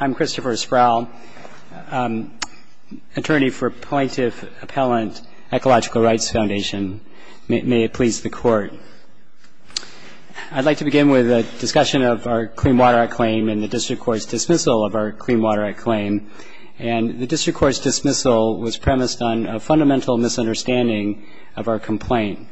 I'm Christopher Sproul, attorney for Plaintiff Appellant Ecological Rights Foundation. May it please the Court. I'd like to begin with a discussion of our Clean Water Act claim and the District Court's dismissal of our Clean Water Act claim. And the District Court's dismissal was premised on a fundamental misunderstanding of our complaint.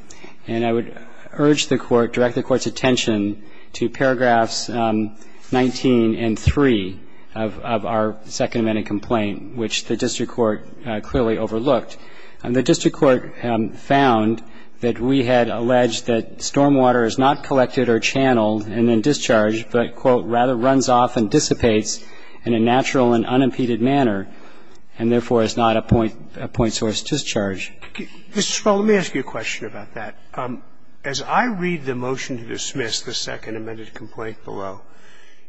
And I would urge the Court, direct the Court's attention to paragraphs 19 and 3 of our Second Amendment complaint, which the District Court clearly overlooked. The District Court found that we had alleged that stormwater is not collected or channeled and then discharged, but, quote, rather runs off and dissipates in a natural and unimpeded manner, and therefore is not a point source discharge. Mr. Sproul, let me ask you a question about that. As I read the motion to dismiss the Second Amendment complaint below,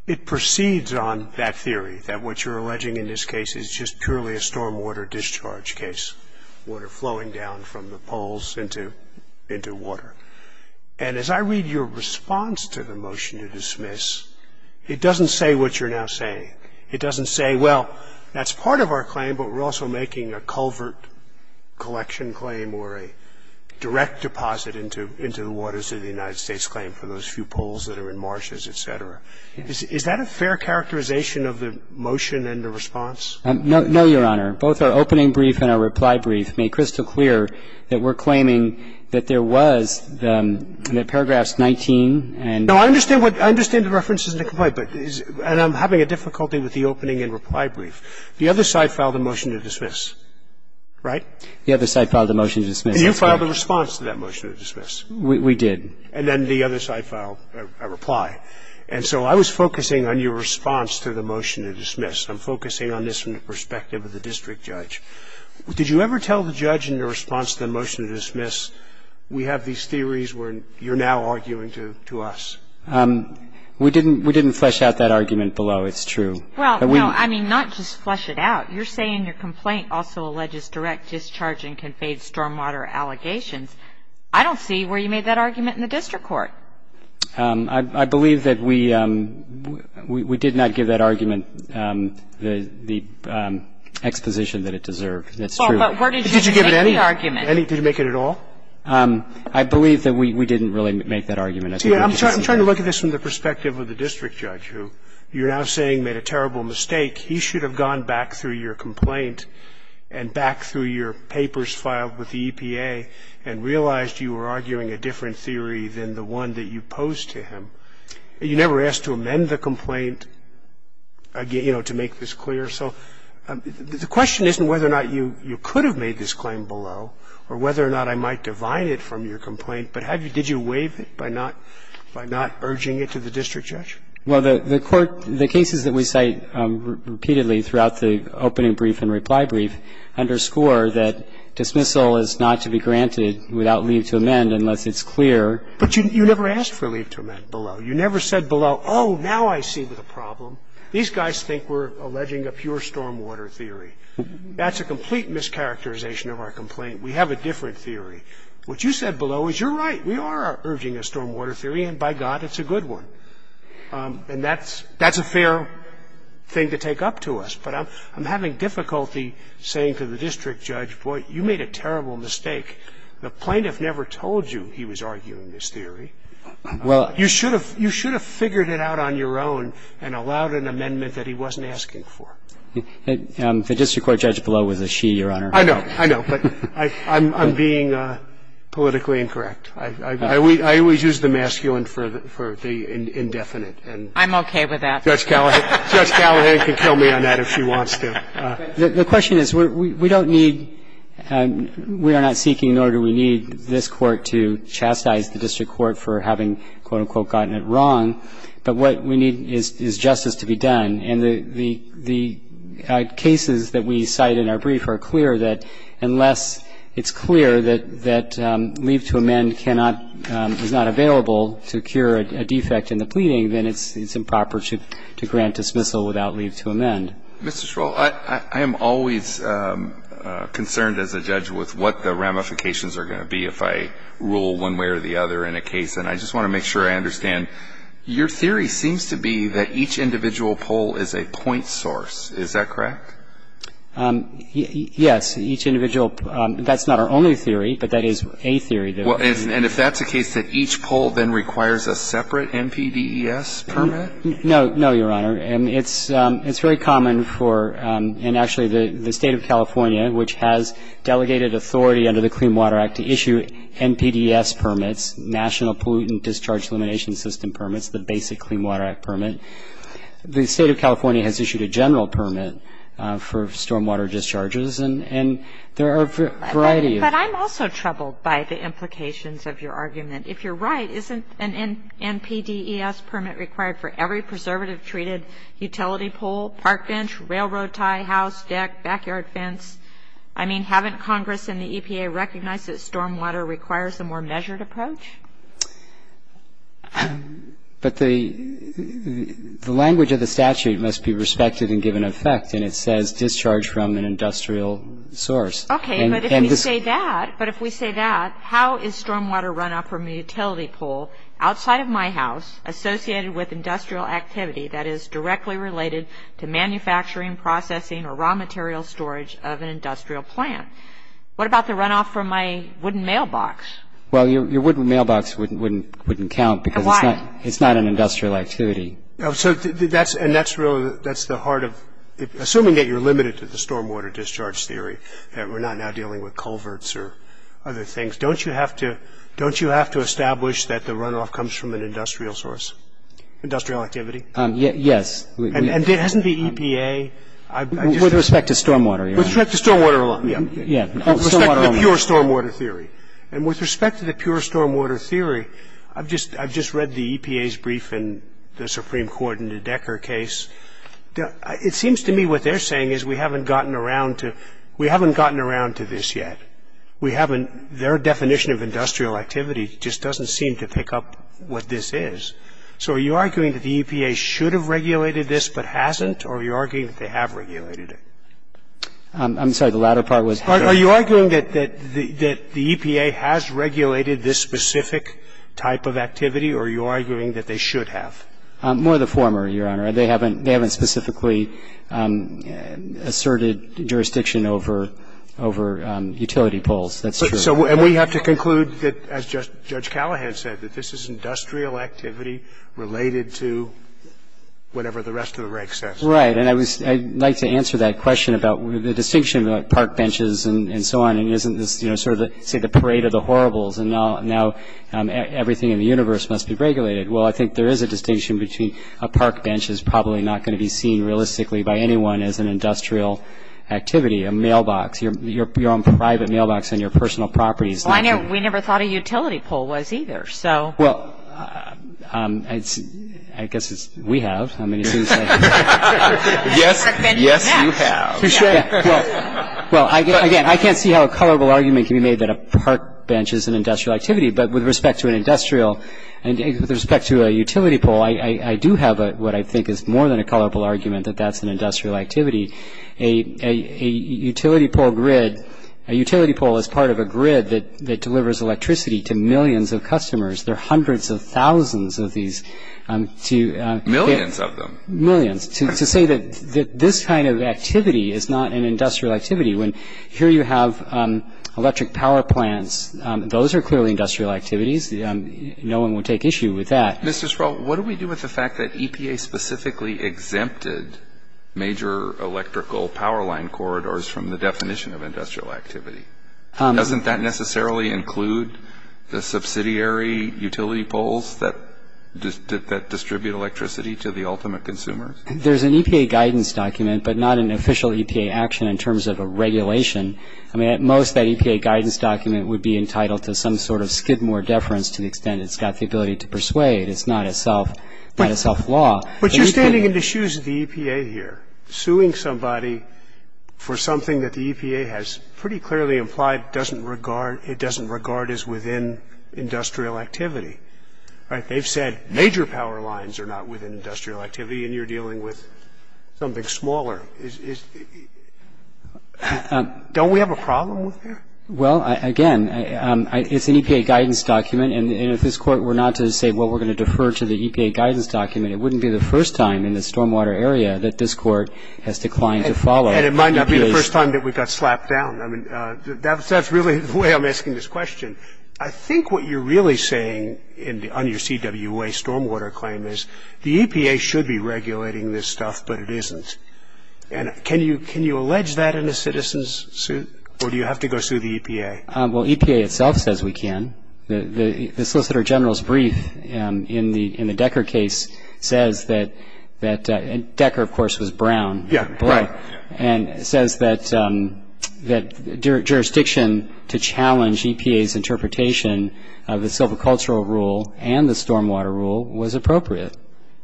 it proceeds on that theory, that what you're alleging in this case is just purely a stormwater discharge case, water flowing down from the poles into water. And as I read your response to the motion to dismiss, it doesn't say what you're now saying. It doesn't say, well, that's part of our claim, but we're also making a culvert collection claim or a direct deposit into the waters of the United States claim for those few poles that are in marshes, et cetera. Is that a fair characterization of the motion and the response? No, Your Honor. Both our opening brief and our reply brief make crystal clear that we're claiming that there was the paragraphs 19 and 3. I understand the reference isn't a complaint, and I'm having a difficulty with the opening and reply brief. The other side filed a motion to dismiss, right? The other side filed a motion to dismiss. You filed a response to that motion to dismiss. We did. And then the other side filed a reply. And so I was focusing on your response to the motion to dismiss. I'm focusing on this from the perspective of the district judge. Did you ever tell the judge in your response to the motion to dismiss, that you're now arguing to us? We have these theories where you're now arguing to us. We didn't flesh out that argument below. It's true. Well, no, I mean, not just flesh it out. You're saying your complaint also alleges direct discharge and conveyed stormwater allegations. I don't see where you made that argument in the district court. I believe that we did not give that argument the exposition that it deserved. That's true. But where did you make the argument? Did you give it any? Did you make it at all? I believe that we didn't really make that argument. See, I'm trying to look at this from the perspective of the district judge, who you're now saying made a terrible mistake. He should have gone back through your complaint and back through your papers filed with the EPA and realized you were arguing a different theory than the one that you posed to him. You never asked to amend the complaint, you know, to make this clear. So the question isn't whether or not you could have made this claim below or whether or not I might divide it from your complaint, but did you waive it by not urging it to the district judge? Well, the court, the cases that we cite repeatedly throughout the opening brief and reply brief underscore that dismissal is not to be granted without leave to amend unless it's clear. But you never asked for leave to amend below. You never said below, oh, now I see the problem. These guys think we're alleging a pure stormwater theory. That's a complete mischaracterization of our complaint. We have a different theory. What you said below is you're right. We are urging a stormwater theory, and by God, it's a good one. And that's a fair thing to take up to us. But I'm having difficulty saying to the district judge, boy, you made a terrible mistake. The plaintiff never told you he was arguing this theory. You should have figured it out on your own and allowed an amendment that he wasn't asking for. The district court judge below was a she, Your Honor. I know. I know. But I'm being politically incorrect. I always use the masculine for the indefinite. I'm okay with that. Judge Callahan can kill me on that if she wants to. The question is, we don't need, we are not seeking an order. We need this Court to chastise the district court for having, quote, unquote, gotten it wrong. But what we need is justice to be done. And the cases that we cite in our brief are clear that unless it's clear that leave to amend cannot, is not available to cure a defect in the pleading, then it's improper to grant dismissal without leave to amend. Mr. Schroll, I am always concerned as a judge with what the ramifications are going to be if I rule one way or the other in a case. And I just want to make sure I understand. Your theory seems to be that each individual poll is a point source. Is that correct? Yes. Each individual. That's not our only theory, but that is a theory. And if that's the case, that each poll then requires a separate NPDES permit? No, Your Honor. And it's very common for, and actually the State of California, which has delegated authority under the Clean Water Act to issue NPDES permits, National Pollutant Discharge Elimination System permits, the basic Clean Water Act permit. The State of California has issued a general permit for stormwater discharges. And there are a variety of them. But I'm also troubled by the implications of your argument. If you're right, isn't an NPDES permit required for every preservative-treated utility pole, park bench, railroad tie, house, deck, backyard fence? I mean, haven't Congress and the EPA recognized that stormwater requires a more measured approach? But the language of the statute must be respected and given effect. And it says discharge from an industrial source. Okay. But if we say that, how is stormwater runoff from a utility pole outside of my house associated with industrial activity that is directly related to manufacturing, processing, or raw material storage of an industrial plant? What about the runoff from my wooden mailbox? Well, your wooden mailbox wouldn't count because it's not an industrial activity. So that's the heart of it, assuming that you're limited to the stormwater discharge theory. We're not now dealing with culverts or other things. Don't you have to establish that the runoff comes from an industrial source, industrial activity? Yes. And hasn't the EPA? With respect to stormwater, Your Honor. With respect to stormwater alone. Yeah. With respect to the pure stormwater theory. And with respect to the pure stormwater theory, I've just read the EPA's brief in the Supreme Court in the Decker case. It seems to me what they're saying is we haven't gotten around to this yet. We haven't – their definition of industrial activity just doesn't seem to pick up what this is. So are you arguing that the EPA should have regulated this but hasn't, or are you arguing that they have regulated it? I'm sorry. The latter part was – Are you arguing that the EPA has regulated this specific type of activity, or are you arguing that they should have? More the former, Your Honor. They haven't specifically asserted jurisdiction over utility poles. That's true. And we have to conclude that, as Judge Callahan said, that this is industrial activity related to whatever the rest of the rank says. Right. And I'd like to answer that question about the distinction about park benches and so on, and isn't this sort of, say, the parade of the horribles, and now everything in the universe must be regulated. Well, I think there is a distinction between a park bench is probably not going to be seen realistically by anyone as an industrial activity, a mailbox, your own private mailbox on your personal property. Well, we never thought a utility pole was either. Well, I guess we have. Yes, you have. Well, again, I can't see how a colorable argument can be made that a park bench is an industrial activity, but with respect to an industrial and with respect to a utility pole, I do have what I think is more than a colorable argument that that's an industrial activity. A utility pole grid, a utility pole is part of a grid that delivers electricity to millions of customers. There are hundreds of thousands of these. Millions of them. Millions. To say that this kind of activity is not an industrial activity, when here you have electric power plants, those are clearly industrial activities. No one would take issue with that. Mr. Sproul, what do we do with the fact that EPA specifically exempted major electrical power line corridors from the definition of industrial activity? Doesn't that necessarily include the subsidiary utility poles that distribute electricity to the ultimate consumers? There's an EPA guidance document, but not an official EPA action in terms of a regulation. I mean, at most, that EPA guidance document would be entitled to some sort of skidmore deference to the extent it's got the ability to persuade. It's not a self-law. But you're standing in the shoes of the EPA here, suing somebody for something that the EPA has pretty clearly implied it doesn't regard as within industrial activity. Right? They've said major power lines are not within industrial activity, and you're dealing with something smaller. Don't we have a problem with that? Well, again, it's an EPA guidance document, and if this Court were not to say, well, we're going to defer to the EPA guidance document, it wouldn't be the first time in the stormwater area that this Court has declined to follow. And it might not be the first time that we got slapped down. I mean, that's really the way I'm asking this question. I think what you're really saying on your CWA stormwater claim is the EPA should be regulating this stuff, but it isn't. And can you allege that in a citizen's suit, or do you have to go sue the EPA? Well, EPA itself says we can. The Solicitor General's brief in the Decker case says that – and Decker, of course, was brown. And it says that jurisdiction to challenge EPA's interpretation of the silvicultural rule and the stormwater rule was appropriate.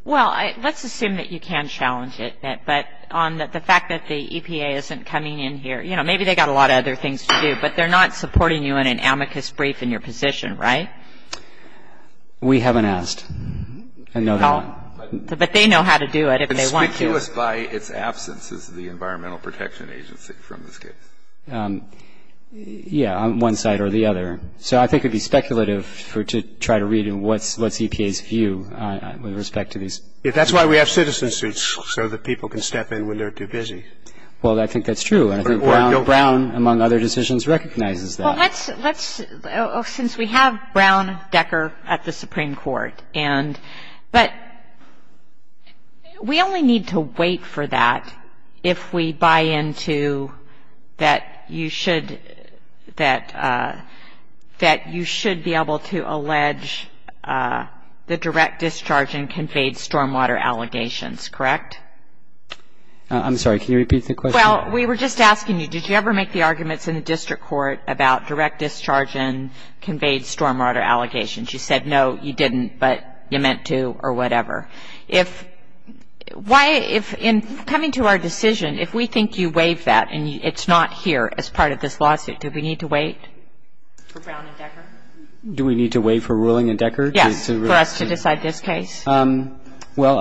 Well, let's assume that you can challenge it, but on the fact that the EPA isn't coming in here – you know, maybe they've got a lot of other things to do, but they're not supporting you in an amicus brief in your position, right? We haven't asked. But they know how to do it if they want to. Amicus by its absence is the Environmental Protection Agency from this case. Yeah, on one side or the other. So I think it would be speculative to try to read what's EPA's view with respect to these. That's why we have citizen suits, so that people can step in when they're too busy. Well, I think that's true. And I think Brown, among other decisions, recognizes that. Well, let's – since we have Brown, Decker at the Supreme Court, but we only need to wait for that if we buy into that you should be able to allege the direct discharge and conveyed stormwater allegations, correct? I'm sorry. Can you repeat the question? Well, we were just asking you, did you ever make the arguments in the district court about direct discharge and conveyed stormwater allegations? You said no, you didn't, but you meant to or whatever. If – why – if in coming to our decision, if we think you waive that and it's not here as part of this lawsuit, do we need to wait for Brown and Decker? Do we need to wait for a ruling in Decker? Yes, for us to decide this case. Well,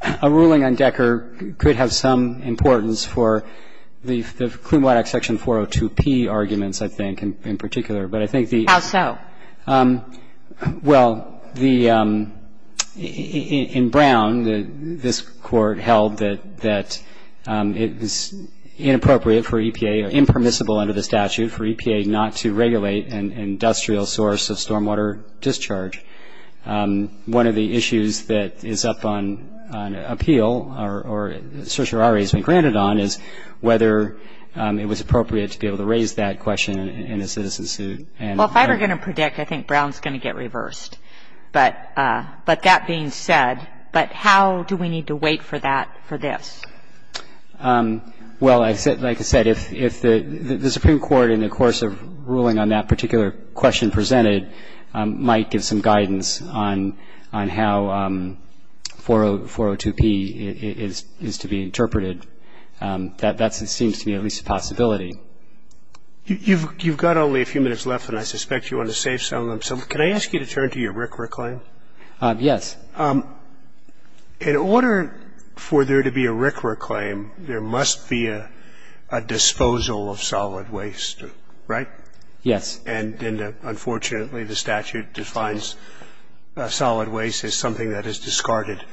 a ruling on Decker could have some importance for the Klum-Waddock section 402P arguments, I think, in particular. But I think the – How so? Well, the – in Brown, this Court held that it was inappropriate for EPA, impermissible under the statute for EPA not to regulate an industrial source of stormwater discharge. One of the issues that is up on appeal, or certiorari has been granted on, is whether it was appropriate to be able to raise that question in a citizen suit. Well, if I were going to predict, I think Brown's going to get reversed. But that being said, but how do we need to wait for that for this? Well, like I said, if the Supreme Court, in the course of ruling on that particular question presented, might give some guidance on how 402P is to be interpreted, that seems to be at least a possibility. You've got only a few minutes left, and I suspect you want to save some of them. So can I ask you to turn to your RCRA claim? Yes. In order for there to be a RCRA claim, there must be a disposal of solid waste, right? Yes. And unfortunately, the statute defines solid waste as something that is discarded.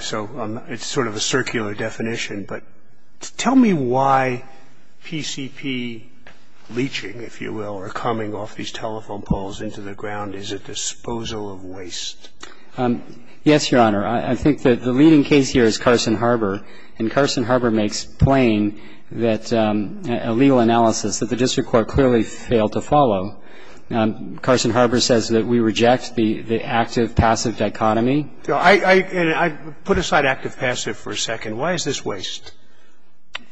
So it's sort of a circular definition. But tell me why PCP leaching, if you will, or coming off these telephone poles into the ground is a disposal of waste. Yes, Your Honor. I think that the leading case here is Carson Harbor. And Carson Harbor makes plain that a legal analysis that the district court clearly failed to follow. Carson Harbor says that we reject the active-passive dichotomy. I put aside active-passive for a second. Why is this waste?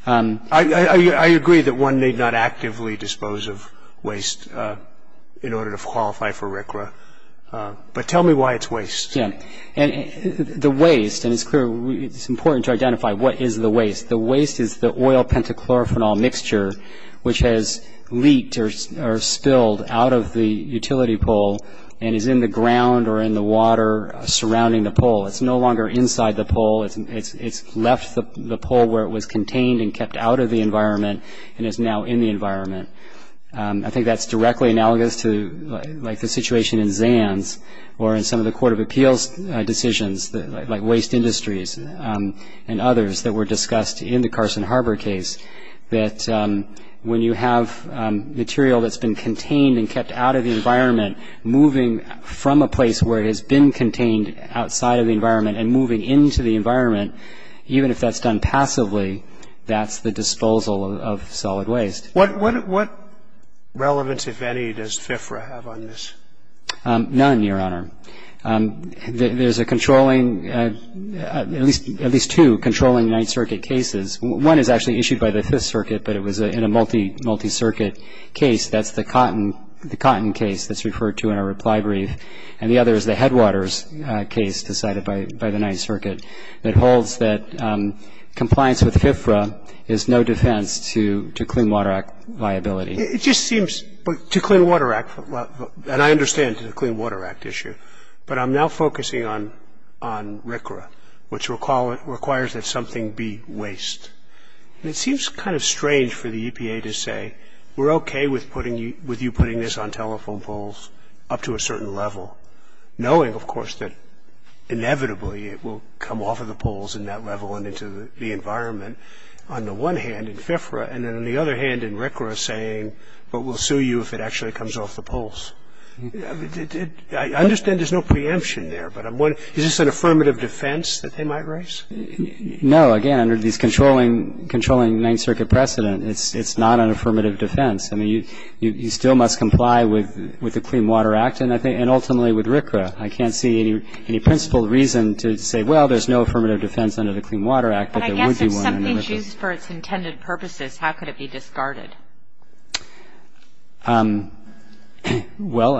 I agree that one need not actively dispose of waste in order to qualify for RCRA. But tell me why it's waste. Yes. And the waste, and it's important to identify what is the waste. The waste is the oil pentachlorophenol mixture which has leaked or spilled out of the utility pole and is in the ground or in the water surrounding the pole. It's no longer inside the pole. It's left the pole where it was contained and kept out of the environment and is now in the environment. I think that's directly analogous to like the situation in Zans or in some of the Court of Appeals decisions like Waste Industries and others that were discussed in the Carson Harbor case, that when you have material that's been contained and kept out of the environment, moving from a place where it has been contained outside of the environment and moving into the environment, even if that's done passively, that's the disposal of solid waste. What relevance, if any, does FFRA have on this? None, Your Honor. There's a controlling, at least two controlling Ninth Circuit cases. One is actually issued by the Fifth Circuit, but it was in a multi-circuit case. That's the Cotton case that's referred to in our reply brief. And the other is the Headwaters case decided by the Ninth Circuit that holds that compliance with FFRA is no defense to Clean Water Act liability. It just seems to Clean Water Act, and I understand the Clean Water Act issue, but I'm now focusing on RCRA, which requires that something be waste. And it seems kind of strange for the EPA to say, we're okay with you putting this on telephone poles up to a certain level, knowing, of course, that inevitably it will come off of the poles in that level and into the environment, on the one hand in FFRA, and then on the other hand in RCRA saying, but we'll sue you if it actually comes off the poles. I understand there's no preemption there, but is this an affirmative defense that they might raise? No, again, under these controlling Ninth Circuit precedent, it's not an affirmative defense. I mean, you still must comply with the Clean Water Act, and ultimately with RCRA. I can't see any principle reason to say, well, there's no affirmative defense under the Clean Water Act, but there would be one. But I guess if something's used for its intended purposes, how could it be discarded? Well,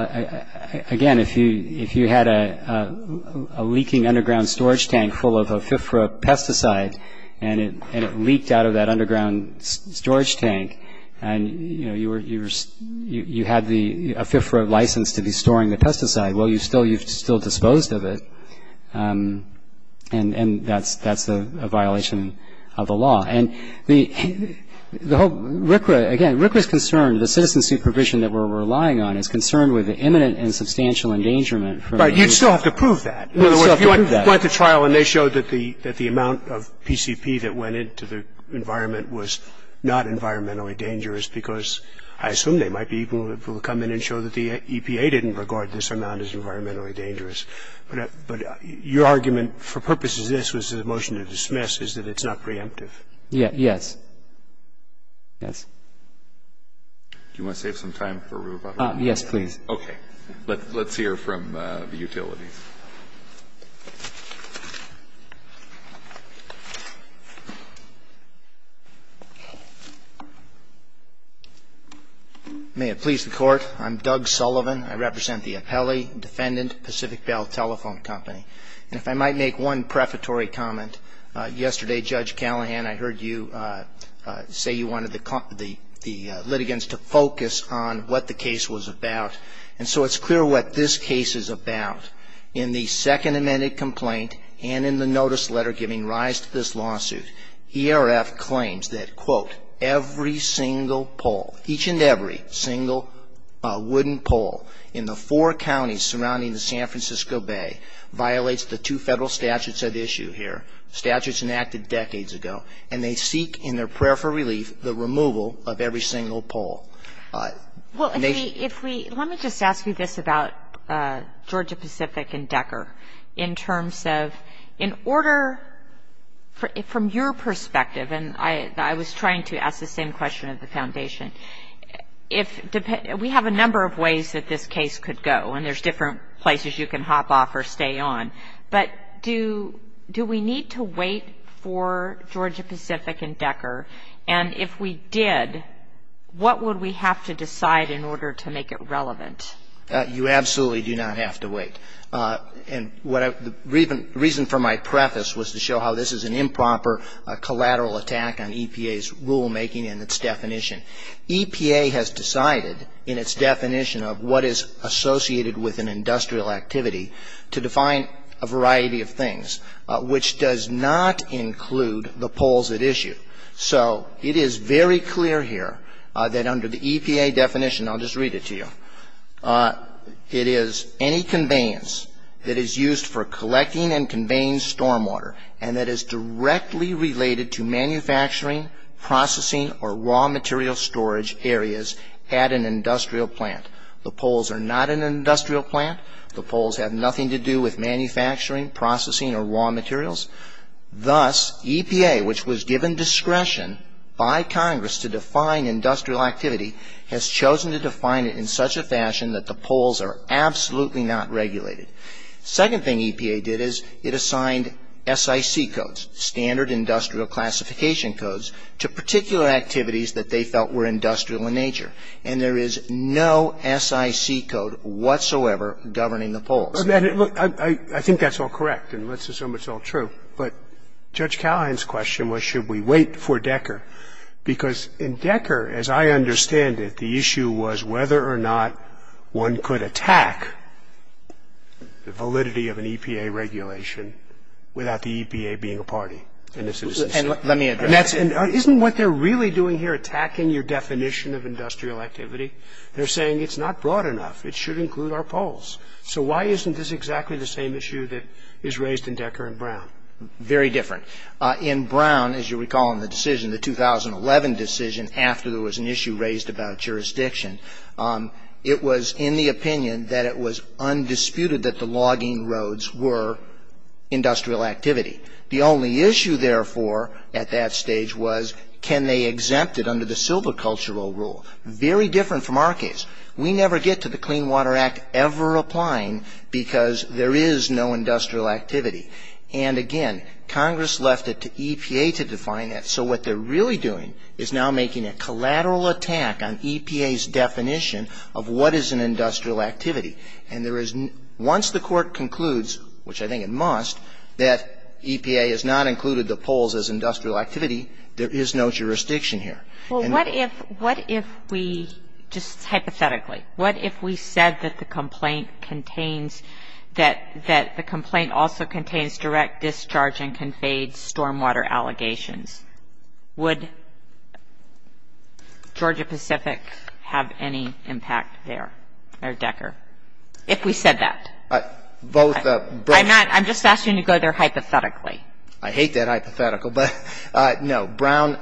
again, if you had a leaking underground storage tank full of FFRA pesticide and it leaked out of that underground storage tank, and, you know, you had a FFRA license to be storing the pesticide, well, you still disposed of it, and that's a violation of the law. And the whole RCRA, again, RCRA's concern, the citizen supervision that we're relying on, is concerned with the imminent and substantial endangerment. But you'd still have to prove that. You'd still have to prove that. If you went to trial and they showed that the amount of PCP that went into the environment was not environmentally dangerous, because I assume they might be able to come in and show that the EPA didn't regard this amount as environmentally dangerous. But your argument for purposes of this was the motion to dismiss is that it's not preemptive. Yes. Yes. Do you want to save some time for Ruba? Yes, please. Okay. Let's hear from the utilities. May it please the Court. I'm Doug Sullivan. I represent the Apelli Defendant Pacific Bell Telephone Company. And if I might make one prefatory comment, yesterday, Judge Callahan, I heard you say you wanted the litigants to focus on what the case was about. And so it's clear what this case is about. In the second amended complaint and in the notice letter giving rise to this lawsuit, ERF claims that, quote, every single pole, each and every single wooden pole in the four counties surrounding the San Francisco Bay violates the two Federal statutes at issue here, statutes enacted decades ago. And they seek in their prayer for relief the removal of every single pole. Well, let me just ask you this about Georgia Pacific and Decker. In terms of, in order, from your perspective, and I was trying to ask the same question of the Foundation, we have a number of ways that this case could go, and there's different places you can hop off or stay on. And if we did, what would we have to decide in order to make it relevant? You absolutely do not have to wait. And the reason for my preface was to show how this is an improper collateral attack on EPA's rulemaking and its definition. EPA has decided in its definition of what is associated with an industrial activity to define a variety of things, which does not include the poles at issue. So it is very clear here that under the EPA definition, I'll just read it to you, it is any conveyance that is used for collecting and conveying stormwater, and that is directly related to manufacturing, processing, or raw material storage areas at an industrial plant. The poles are not an industrial plant. The poles have nothing to do with manufacturing, processing, or raw materials. Thus, EPA, which was given discretion by Congress to define industrial activity, has chosen to define it in such a fashion that the poles are absolutely not regulated. Second thing EPA did is it assigned SIC codes, standard industrial classification codes, to particular activities that they felt were industrial in nature. And there is no SIC code whatsoever governing the poles. Scalia. Look, I think that's all correct, and let's assume it's all true. But Judge Callahan's question was should we wait for Decker? Because in Decker, as I understand it, the issue was whether or not one could attack the validity of an EPA regulation without the EPA being a party in this instance. Gershengorn And let me address that. Scalia. Isn't what they're really doing here attacking your definition of industrial activity? They're saying it's not broad enough. It should include our poles. So why isn't this exactly the same issue that is raised in Decker and Brown? Gershengorn Very different. In Brown, as you recall in the decision, the 2011 decision, after there was an issue raised about jurisdiction, it was in the opinion that it was undisputed that the logging roads were industrial activity. The only issue, therefore, at that stage was can they exempt it under the silvicultural rule? Very different from our case. We never get to the Clean Water Act ever applying because there is no industrial activity. And, again, Congress left it to EPA to define that. So what they're really doing is now making a collateral attack on EPA's definition of what is an industrial activity. And there is no — once the Court concludes, which I think it must, that EPA has not included the poles as industrial activity, there is no jurisdiction here. Well, what if we, just hypothetically, what if we said that the complaint also contains direct discharge and conveyed stormwater allegations? Would Georgia-Pacific have any impact there, or Decker, if we said that? I'm just asking you to go there hypothetically. I hate that hypothetical, but, no, Brown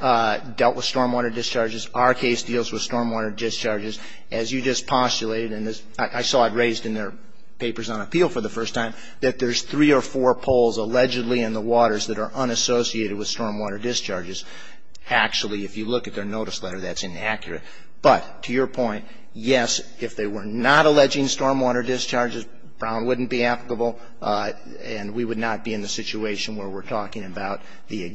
dealt with stormwater discharges. Our case deals with stormwater discharges. As you just postulated, and I saw it raised in their papers on appeal for the first time, that there's three or four poles allegedly in the waters that are unassociated with stormwater discharges. Actually, if you look at their notice letter, that's inaccurate. But, to your point, yes, if they were not alleging stormwater discharges, Brown wouldn't be applicable, and we would not be in the situation where we're talking about the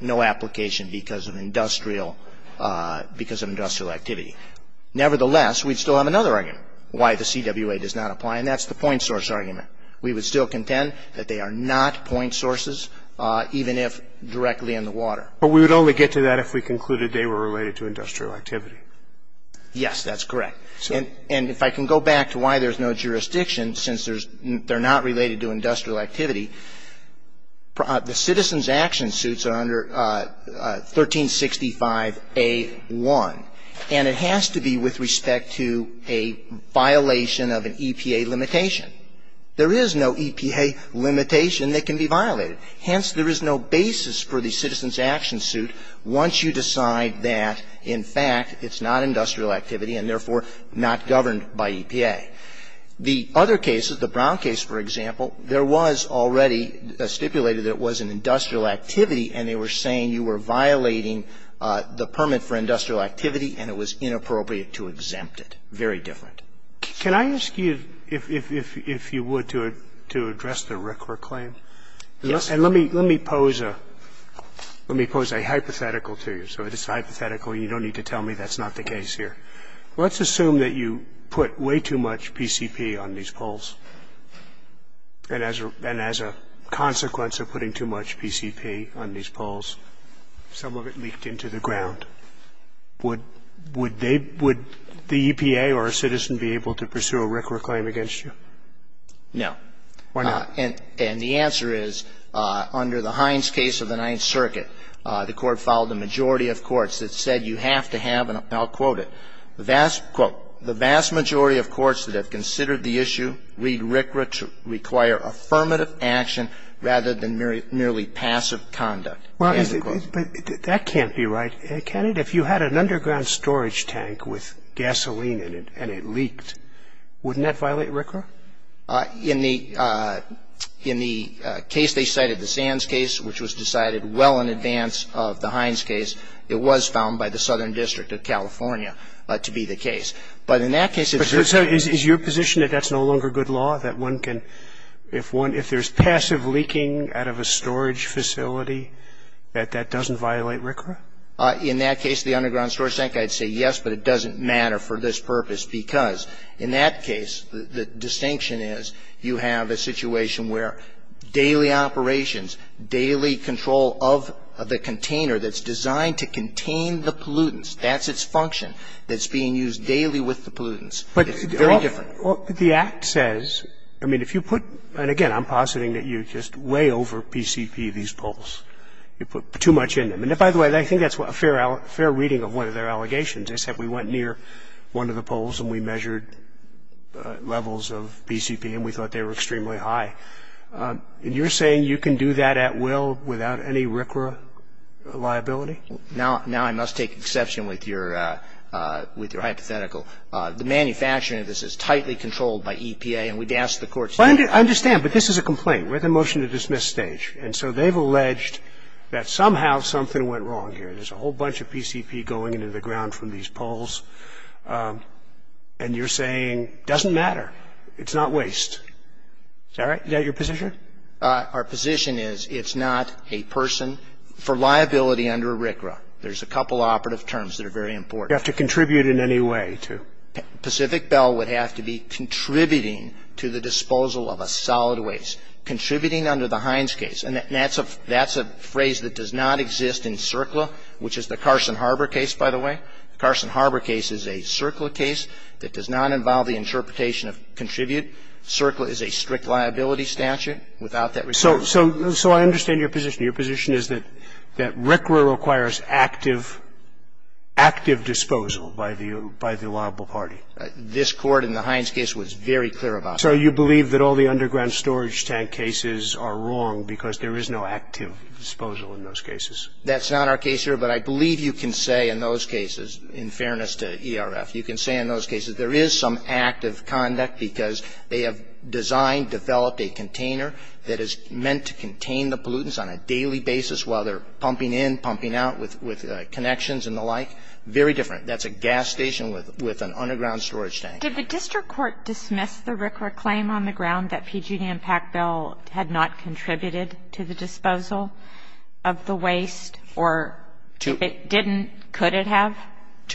no application because of industrial activity. Nevertheless, we'd still have another argument, why the CWA does not apply, and that's the point source argument. We would still contend that they are not point sources, even if directly in the water. But we would only get to that if we concluded they were related to industrial activity. Yes, that's correct. And if I can go back to why there's no jurisdiction, since they're not related to industrial activity, the citizens' action suits are under 1365A.1, and it has to be with respect to a violation of an EPA limitation. There is no EPA limitation that can be violated. Hence, there is no basis for the citizens' action suit once you decide that, in fact, it's not industrial activity and, therefore, not governed by EPA. The other cases, the Brown case, for example, there was already stipulated that it was an industrial activity and they were saying you were violating the permit for industrial activity and it was inappropriate to exempt it. Very different. Can I ask you, if you would, to address the Rickler claim? Yes. And let me pose a hypothetical to you. So it's hypothetical. You don't need to tell me that's not the case here. Let's assume that you put way too much PCP on these polls, and as a consequence of putting too much PCP on these polls, some of it leaked into the ground. Would they, would the EPA or a citizen be able to pursue a Rickler claim against you? No. Why not? And the answer is, under the Hines case of the Ninth Circuit, the Court filed a majority of courts that said you have to have, and I'll quote it, the vast, quote, the vast majority of courts that have considered the issue read Rickler to require affirmative action rather than merely passive conduct. Well, that can't be right, can it? If you had an underground storage tank with gasoline in it and it leaked, wouldn't that violate Rickler? In the case they cited, the Sands case, which was decided well in advance of the Hines case, it was found by the Southern District of California to be the case. But in that case, it's your case. Is your position that that's no longer good law, that one can, if one, if there's passive leaking out of a storage facility, that that doesn't violate Rickler? In that case, the underground storage tank, I'd say yes, but it doesn't matter for this purpose, because in that case, the distinction is you have a situation where daily operations, daily control of the container that's designed to contain the pollutants, that's its function, that's being used daily with the pollutants. It's very different. Well, the Act says, I mean, if you put, and again, I'm positing that you just way over PCP these polls. You put too much in them. And by the way, I think that's a fair reading of one of their allegations. They said we went near one of the polls and we measured levels of PCP and we thought they were extremely high. And you're saying you can do that at will without any Rickler liability? Now I must take exception with your hypothetical. The manufacturing of this is tightly controlled by EPA, and we'd ask the courts to do that. I understand, but this is a complaint. We're at the motion-to-dismiss stage. And so they've alleged that somehow something went wrong here. There's a whole bunch of PCP going into the ground from these polls. And you're saying it doesn't matter. It's not waste. Is that right? Is that your position? Our position is it's not a person for liability under RCRA. There's a couple operative terms that are very important. You have to contribute in any way to? Pacific Bell would have to be contributing to the disposal of a solid waste, contributing under the Hines case. And that's a phrase that does not exist in CERCLA, which is the Carson Harbor case, by the way. The Carson Harbor case is a CERCLA case that does not involve the interpretation of contribute. CERCLA is a strict liability statute without that requirement. So I understand your position. Your position is that RCRA requires active, active disposal by the liable party. This Court in the Hines case was very clear about that. So you believe that all the underground storage tank cases are wrong because there is no active disposal in those cases? That's not our case here, but I believe you can say in those cases, in fairness to ERF, you can say in those cases there is some active conduct because they have designed, developed a container that is meant to contain the pollutants on a daily basis while they're pumping in, pumping out with connections and the like. Very different. That's a gas station with an underground storage tank. Did the district court dismiss the RCRA claim on the ground that PGD and PAC Bill had not contributed to the disposal of the waste? Or if it didn't, could it have? We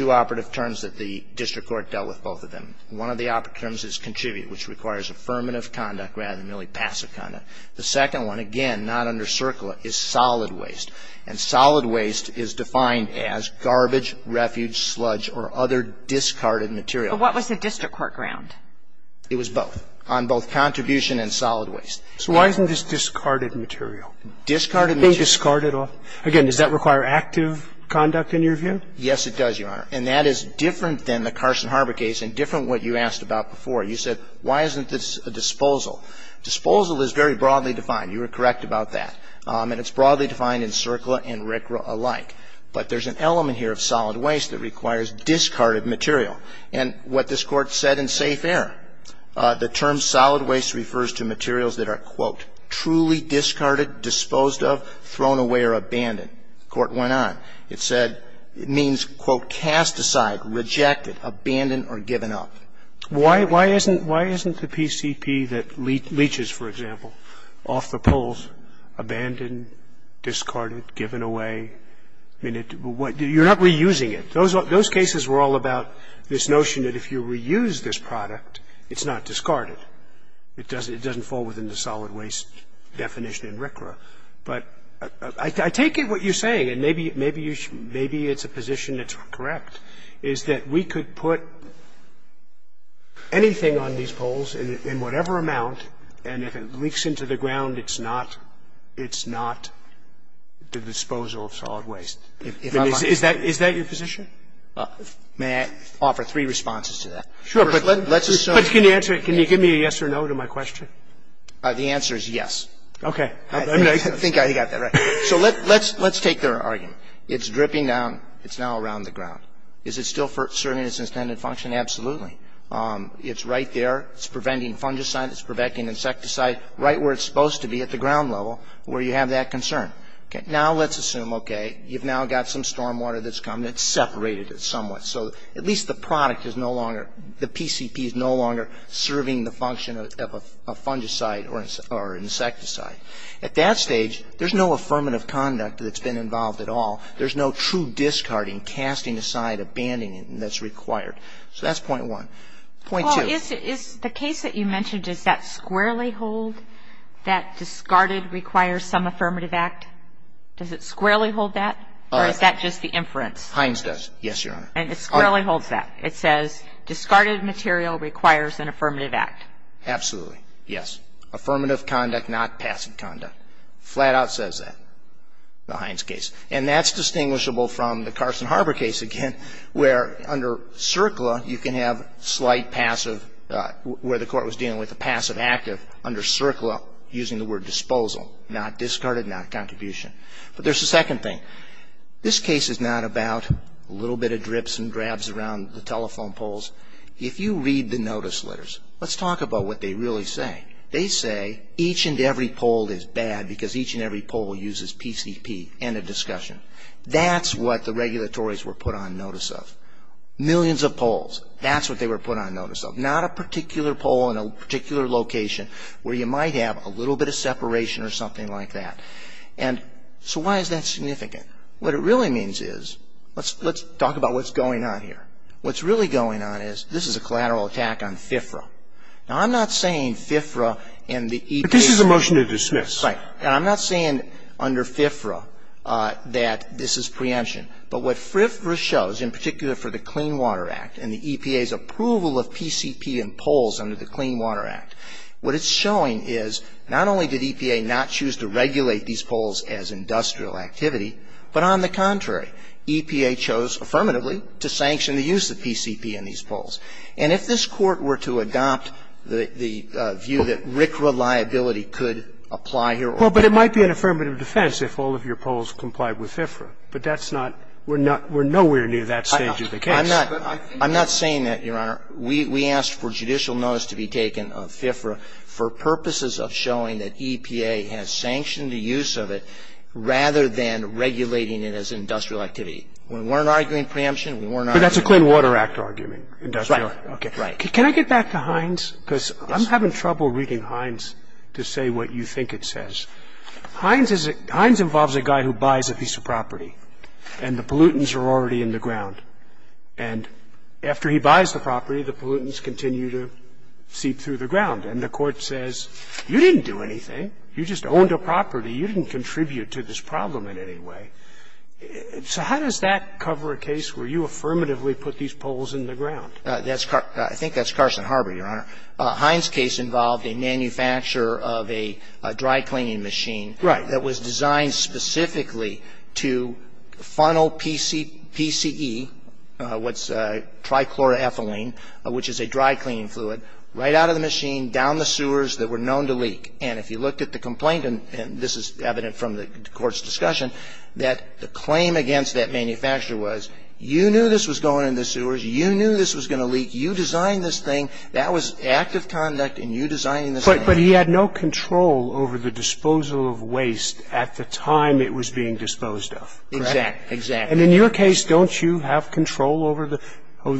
have two operative terms that the district court dealt with, both of them. One of the operative terms is contribute, which requires affirmative conduct rather than merely passive conduct. The second one, again, not under CERCLA, is solid waste. And solid waste is defined as garbage, refuge, sludge or other discarded material. But what was the district court ground? It was both, on both contribution and solid waste. So why isn't this discarded material? Discarded material? They discarded all. Again, does that require active conduct, in your view? Yes, it does, Your Honor. And that is different than the Carson Harbor case and different than what you asked about before. You said, why isn't this a disposal? Disposal is very broadly defined. You were correct about that. And it's broadly defined in CERCLA and RCRA alike. But there's an element here of solid waste that requires discarded material. And what this Court said in safe air, the term solid waste refers to materials that are, quote, truly discarded, disposed of, thrown away or abandoned. The Court went on. It said it means, quote, cast aside, rejected, abandoned or given up. Why isn't the PCP that leaches, for example, off the poles, abandoned, discarded, given away? I mean, you're not reusing it. Those cases were all about this notion that if you reuse this product, it's not discarded. It doesn't fall within the solid waste definition in RCRA. But I take it what you're saying, and maybe it's a position that's correct, is that we could put anything on these poles in whatever amount, and if it leaks into the ground, it's not the disposal of solid waste. Is that your position? May I offer three responses to that? Sure. But can you answer it? Can you give me a yes or no to my question? The answer is yes. Okay. I think I got that right. So let's take their argument. It's dripping down. It's now around the ground. Is it still serving its intended function? Absolutely. It's right there. It's preventing fungicide. It's preventing insecticide right where it's supposed to be, at the ground level, where you have that concern. Now let's assume, okay, you've now got some stormwater that's come. It's separated somewhat. So at least the product is no longer, the PCP is no longer serving the function of a fungicide or insecticide. At that stage, there's no affirmative conduct that's been involved at all. There's no true discarding, casting aside, abandoning that's required. So that's point one. Point two. Well, is the case that you mentioned, does that squarely hold that discarded requires some affirmative act? Does it squarely hold that, or is that just the inference? Hines does. Yes, Your Honor. And it squarely holds that. It says discarded material requires an affirmative act. Absolutely. Yes. Affirmative conduct, not passive conduct. Flat out says that, the Hines case. And that's distinguishable from the Carson Harbor case, again, where under CERCLA, you can have slight passive, where the court was dealing with a passive active under CERCLA, using the word disposal, not discarded, not contribution. But there's a second thing. This case is not about a little bit of drips and grabs around the telephone poles. If you read the notice letters, let's talk about what they really say. They say each and every pole is bad because each and every pole uses PCP, end of discussion. That's what the regulatories were put on notice of. Millions of poles. That's what they were put on notice of. Not a particular pole in a particular location where you might have a little bit of separation or something like that. And so why is that significant? What it really means is, let's talk about what's going on here. What's really going on is, this is a collateral attack on FFRA. Now, I'm not saying FFRA and the EPA. But this is a motion to dismiss. Right. And I'm not saying under FFRA that this is preemption. But what FFRA shows, in particular for the Clean Water Act and the EPA's approval of PCP and poles under the Clean Water Act, what it's showing is, not only did EPA not choose to regulate these poles as industrial activity, but on the contrary, EPA chose affirmatively to sanction the use of PCP in these poles. And if this Court were to adopt the view that RCRA liability could apply here or there. Well, but it might be an affirmative defense if all of your poles complied with FFRA. But that's not we're nowhere near that stage of the case. I'm not saying that, Your Honor. We asked for judicial notice to be taken of FFRA for purposes of showing that EPA has sanctioned the use of it rather than regulating it as industrial activity. We weren't arguing preemption. We weren't arguing. But that's a Clean Water Act argument. Right. Okay. Right. Can I get back to Hines? Because I'm having trouble reading Hines to say what you think it says. Hines involves a guy who buys a piece of property, and the pollutants are already in the ground. And after he buys the property, the pollutants continue to seep through the ground. And the Court says, you didn't do anything. You just owned a property. You didn't contribute to this problem in any way. So how does that cover a case where you affirmatively put these poles in the ground? I think that's Carson Harbor, Your Honor. Hines' case involved a manufacturer of a dry cleaning machine that was designed specifically to funnel PCE, what's trichloroethylene, which is a dry cleaning fluid, right out of the machine, down the sewers that were known to leak. And if you looked at the complaint, and this is evident from the Court's discussion, that the claim against that manufacturer was, you knew this was going in the sewers, you knew this was going to leak, you designed this thing, that was active conduct, and you designed this thing. But he had no control over the disposal of waste at the time it was being disposed of, correct? Exactly. And in your case, don't you have control over the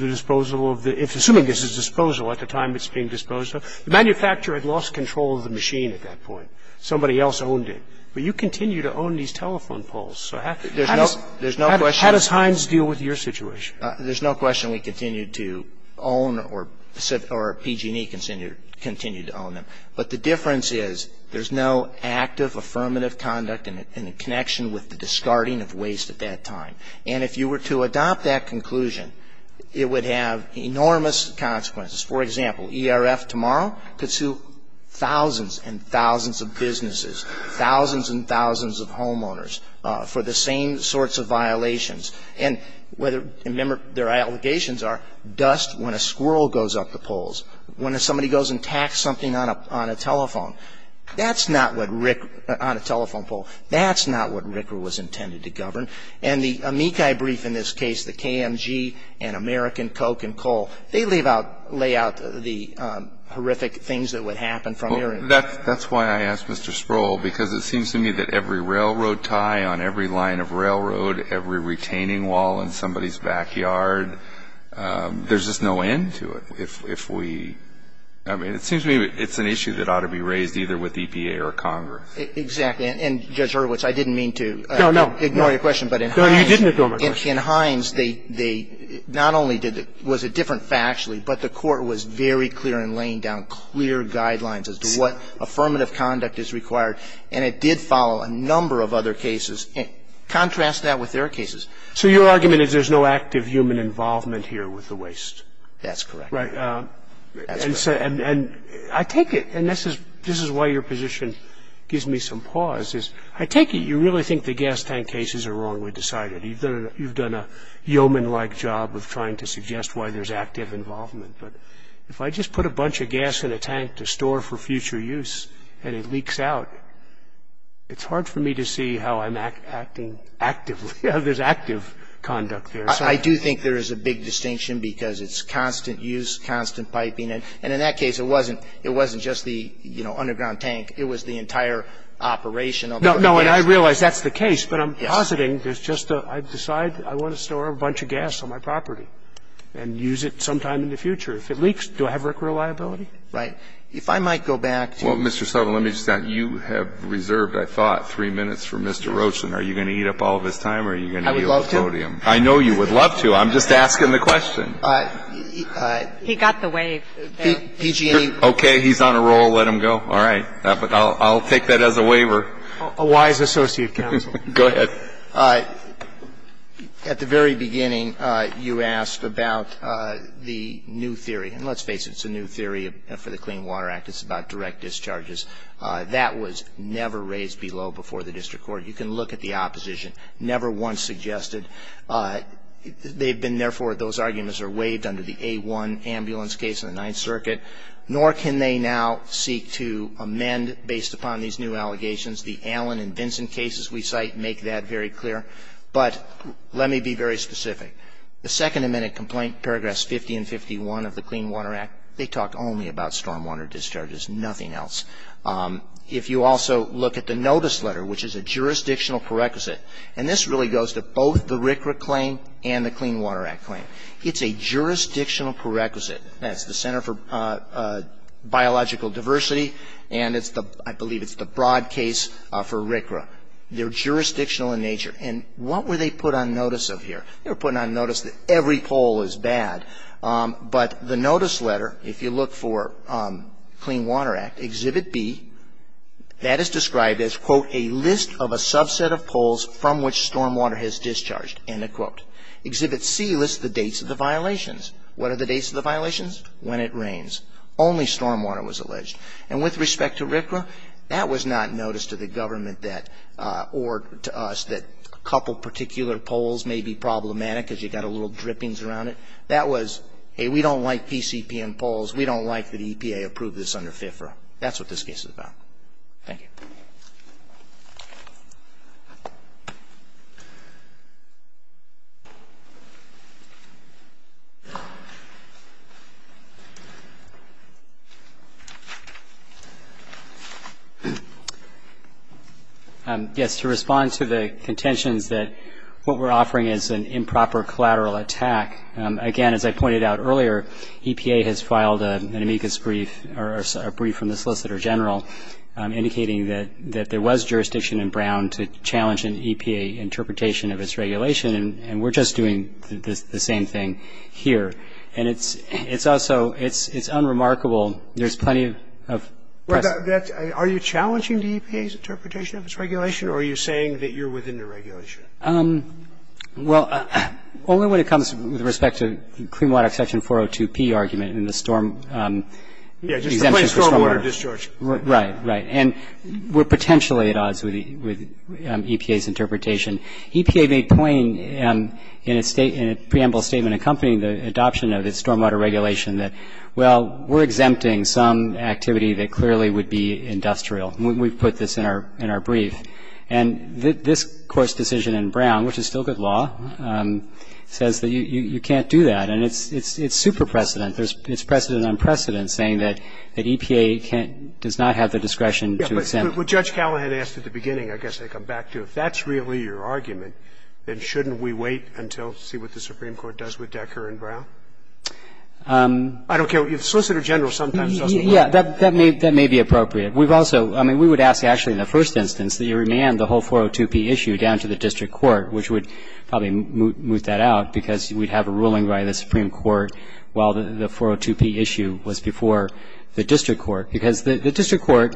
disposal of the – assuming this is disposal at the time it's being disposed of? The manufacturer had lost control of the machine at that point. Somebody else owned it. But you continue to own these telephone poles. So how does Hines deal with your situation? There's no question we continue to own or PG&E continue to own them. But the difference is there's no active affirmative conduct in connection with the discarding of waste at that time. And if you were to adopt that conclusion, it would have enormous consequences. For example, ERF tomorrow could sue thousands and thousands of businesses, thousands and thousands of homeowners for the same sorts of violations. And remember, their allegations are dust when a squirrel goes up the poles, when somebody goes and attacks something on a telephone. That's not what Rick – on a telephone pole. That's not what Rick was intended to govern. And the amici brief in this case, the KMG and American Coke and Coal, they lay out the horrific things that would happen from there. That's why I asked Mr. Sproul, because it seems to me that every railroad tie on every line of railroad, every retaining wall in somebody's backyard, there's just no end to it. If we – I mean, it seems to me it's an issue that ought to be raised either with the EPA or Congress. Exactly. And, Judge Hurwitz, I didn't mean to ignore your question. No, no. No, you didn't ignore my question. In Hines, they not only was it different factually, but the Court was very clear in laying down clear guidelines as to what affirmative conduct is required. And it did follow a number of other cases. Contrast that with their cases. So your argument is there's no active human involvement here with the waste? That's correct. Right. And I take it, and this is why your position gives me some pause, is I take it you really think the gas tank cases are wrongly decided. You've done a yeoman-like job of trying to suggest why there's active involvement. But if I just put a bunch of gas in a tank to store for future use and it leaks out, it's hard for me to see how I'm acting actively, how there's active conduct there. I do think there is a big distinction, because it's constant use, constant piping. And in that case, it wasn't just the, you know, underground tank. It was the entire operation of the gas tank. No, and I realize that's the case. Yes. But I'm positing there's just a, I decide I want to store a bunch of gas on my property and use it sometime in the future. If it leaks, do I have worker reliability? Right. If I might go back to you. Well, Mr. Sullivan, let me just add, you have reserved, I thought, three minutes for Mr. Roach. And are you going to eat up all of his time or are you going to yield the podium? I would love to. I know you would love to. I'm just asking the question. He got the wave. PG&E. Okay. He's on a roll. Let him go. All right. I'll take that as a waiver. A wise associate counsel. Go ahead. At the very beginning, you asked about the new theory. And let's face it, it's a new theory for the Clean Water Act. It's about direct discharges. That was never raised below before the district court. You can look at the opposition. Never once suggested. They've been, therefore, those arguments are waived under the A1 ambulance case in the Ninth Circuit. Nor can they now seek to amend based upon these new allegations. The Allen and Vincent cases we cite make that very clear. But let me be very specific. The second amended complaint, paragraphs 50 and 51 of the Clean Water Act, they talk only about stormwater discharges, nothing else. If you also look at the notice letter, which is a jurisdictional prerequisite, and this really goes to both the RCRA claim and the Clean Water Act claim. It's a jurisdictional prerequisite. That's the Center for Biological Diversity, and I believe it's the broad case for RCRA. They're jurisdictional in nature. And what were they put on notice of here? They were put on notice that every poll is bad. But the notice letter, if you look for Clean Water Act, Exhibit B, that is described as, quote, a list of a subset of polls from which stormwater has discharged, end of quote. Exhibit C lists the dates of the violations. What are the dates of the violations? When it rains. Only stormwater was alleged. And with respect to RCRA, that was not noticed to the government or to us that a couple of particular polls may be problematic because you've got a little drippings around it. That was, hey, we don't like PCP and polls. We don't like that EPA approved this under FIFRA. That's what this case is about. Thank you. Yes, to respond to the contentions that what we're offering is an improper collateral attack, again, as I pointed out earlier, EPA has filed an amicus brief or a brief from the Solicitor General indicating that there was jurisdiction in Brown to challenge an EPA interpretation of its regulation, and we're just doing the same thing here. And it's also, it's unremarkable. There's plenty of press. Are you challenging the EPA's interpretation of its regulation, or are you saying that you're within the regulation? Well, only when it comes with respect to Clean Water Exception 402P argument and the storm exemption for stormwater. Yeah, just the plain stormwater discharge. Right, right. And we're potentially at odds with EPA's interpretation. EPA made plain in its preamble statement accompanying the adoption of its stormwater regulation that, well, we're exempting some activity that clearly would be industrial. We've put this in our brief. And this Court's decision in Brown, which is still good law, says that you can't do that. And it's super precedent. It's precedent on precedent saying that EPA does not have the discretion to exempt. Yeah, but what Judge Callahan asked at the beginning, I guess I come back to, if that's really your argument, then shouldn't we wait until to see what the Supreme Court does with Decker and Brown? I don't care. The Solicitor General sometimes does the right thing. Yeah, that may be appropriate. We've also, I mean, we would ask, actually, in the first instance, that you remand the whole 402P issue down to the district court, which would probably moot that out because we'd have a ruling by the Supreme Court while the 402P issue was before the district court. Because the district court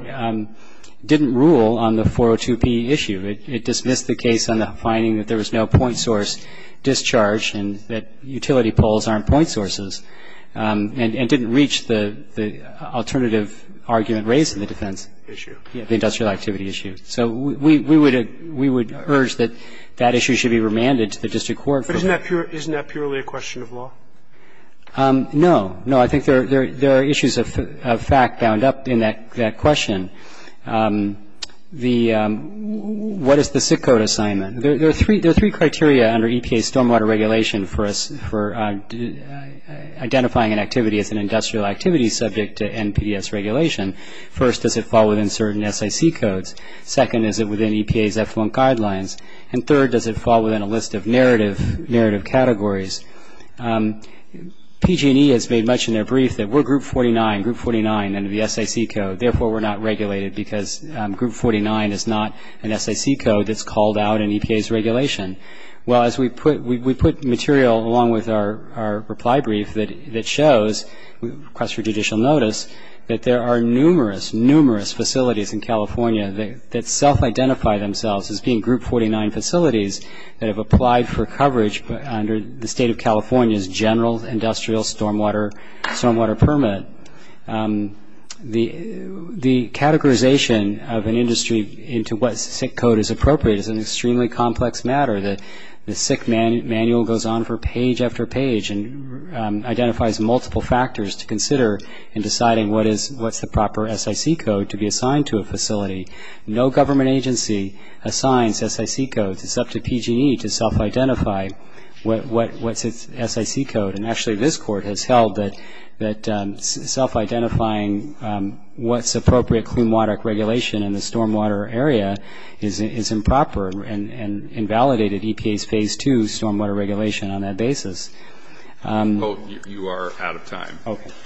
didn't rule on the 402P issue. It dismissed the case on the finding that there was no point source discharge and that utility poles aren't point sources and didn't reach the alternative argument raised in the defense. Issue. The industrial activity issue. So we would urge that that issue should be remanded to the district court. But isn't that purely a question of law? No. No, I think there are issues of fact bound up in that question. The what is the SIT code assignment? There are three criteria under EPA stormwater regulation for identifying an activity as an industrial activity subject to NPDES regulation. First, does it fall within certain SIC codes? Second, is it within EPA's F1 guidelines? And third, does it fall within a list of narrative categories? PG&E has made much in their brief that we're Group 49, Group 49 under the SIC code. Therefore, we're not regulated because Group 49 is not an SIC code that's called out in EPA's regulation. Well, as we put material along with our reply brief that shows, request for judicial notice, that there are numerous, numerous facilities in California that self-identify themselves as being Group 49 facilities that have applied for coverage under the state of California's general industrial stormwater permit. The categorization of an industry into what SIC code is appropriate is an extremely complex matter. The SIC manual goes on for page after page and identifies multiple factors to consider in deciding what's the proper SIC code to be assigned to a facility. No government agency assigns SIC codes. It's up to PG&E to self-identify what's its SIC code. And actually, this court has held that self-identifying what's appropriate clean water regulation in the stormwater area is improper and invalidated EPA's Phase 2 stormwater regulation on that basis. You are out of time.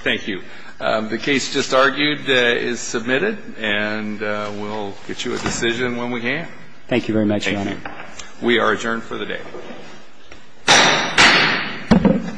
Thank you. The case just argued is submitted, and we'll get you a decision when we can. Thank you very much, Your Honor. Thank you. We are adjourned for the day. Thank you.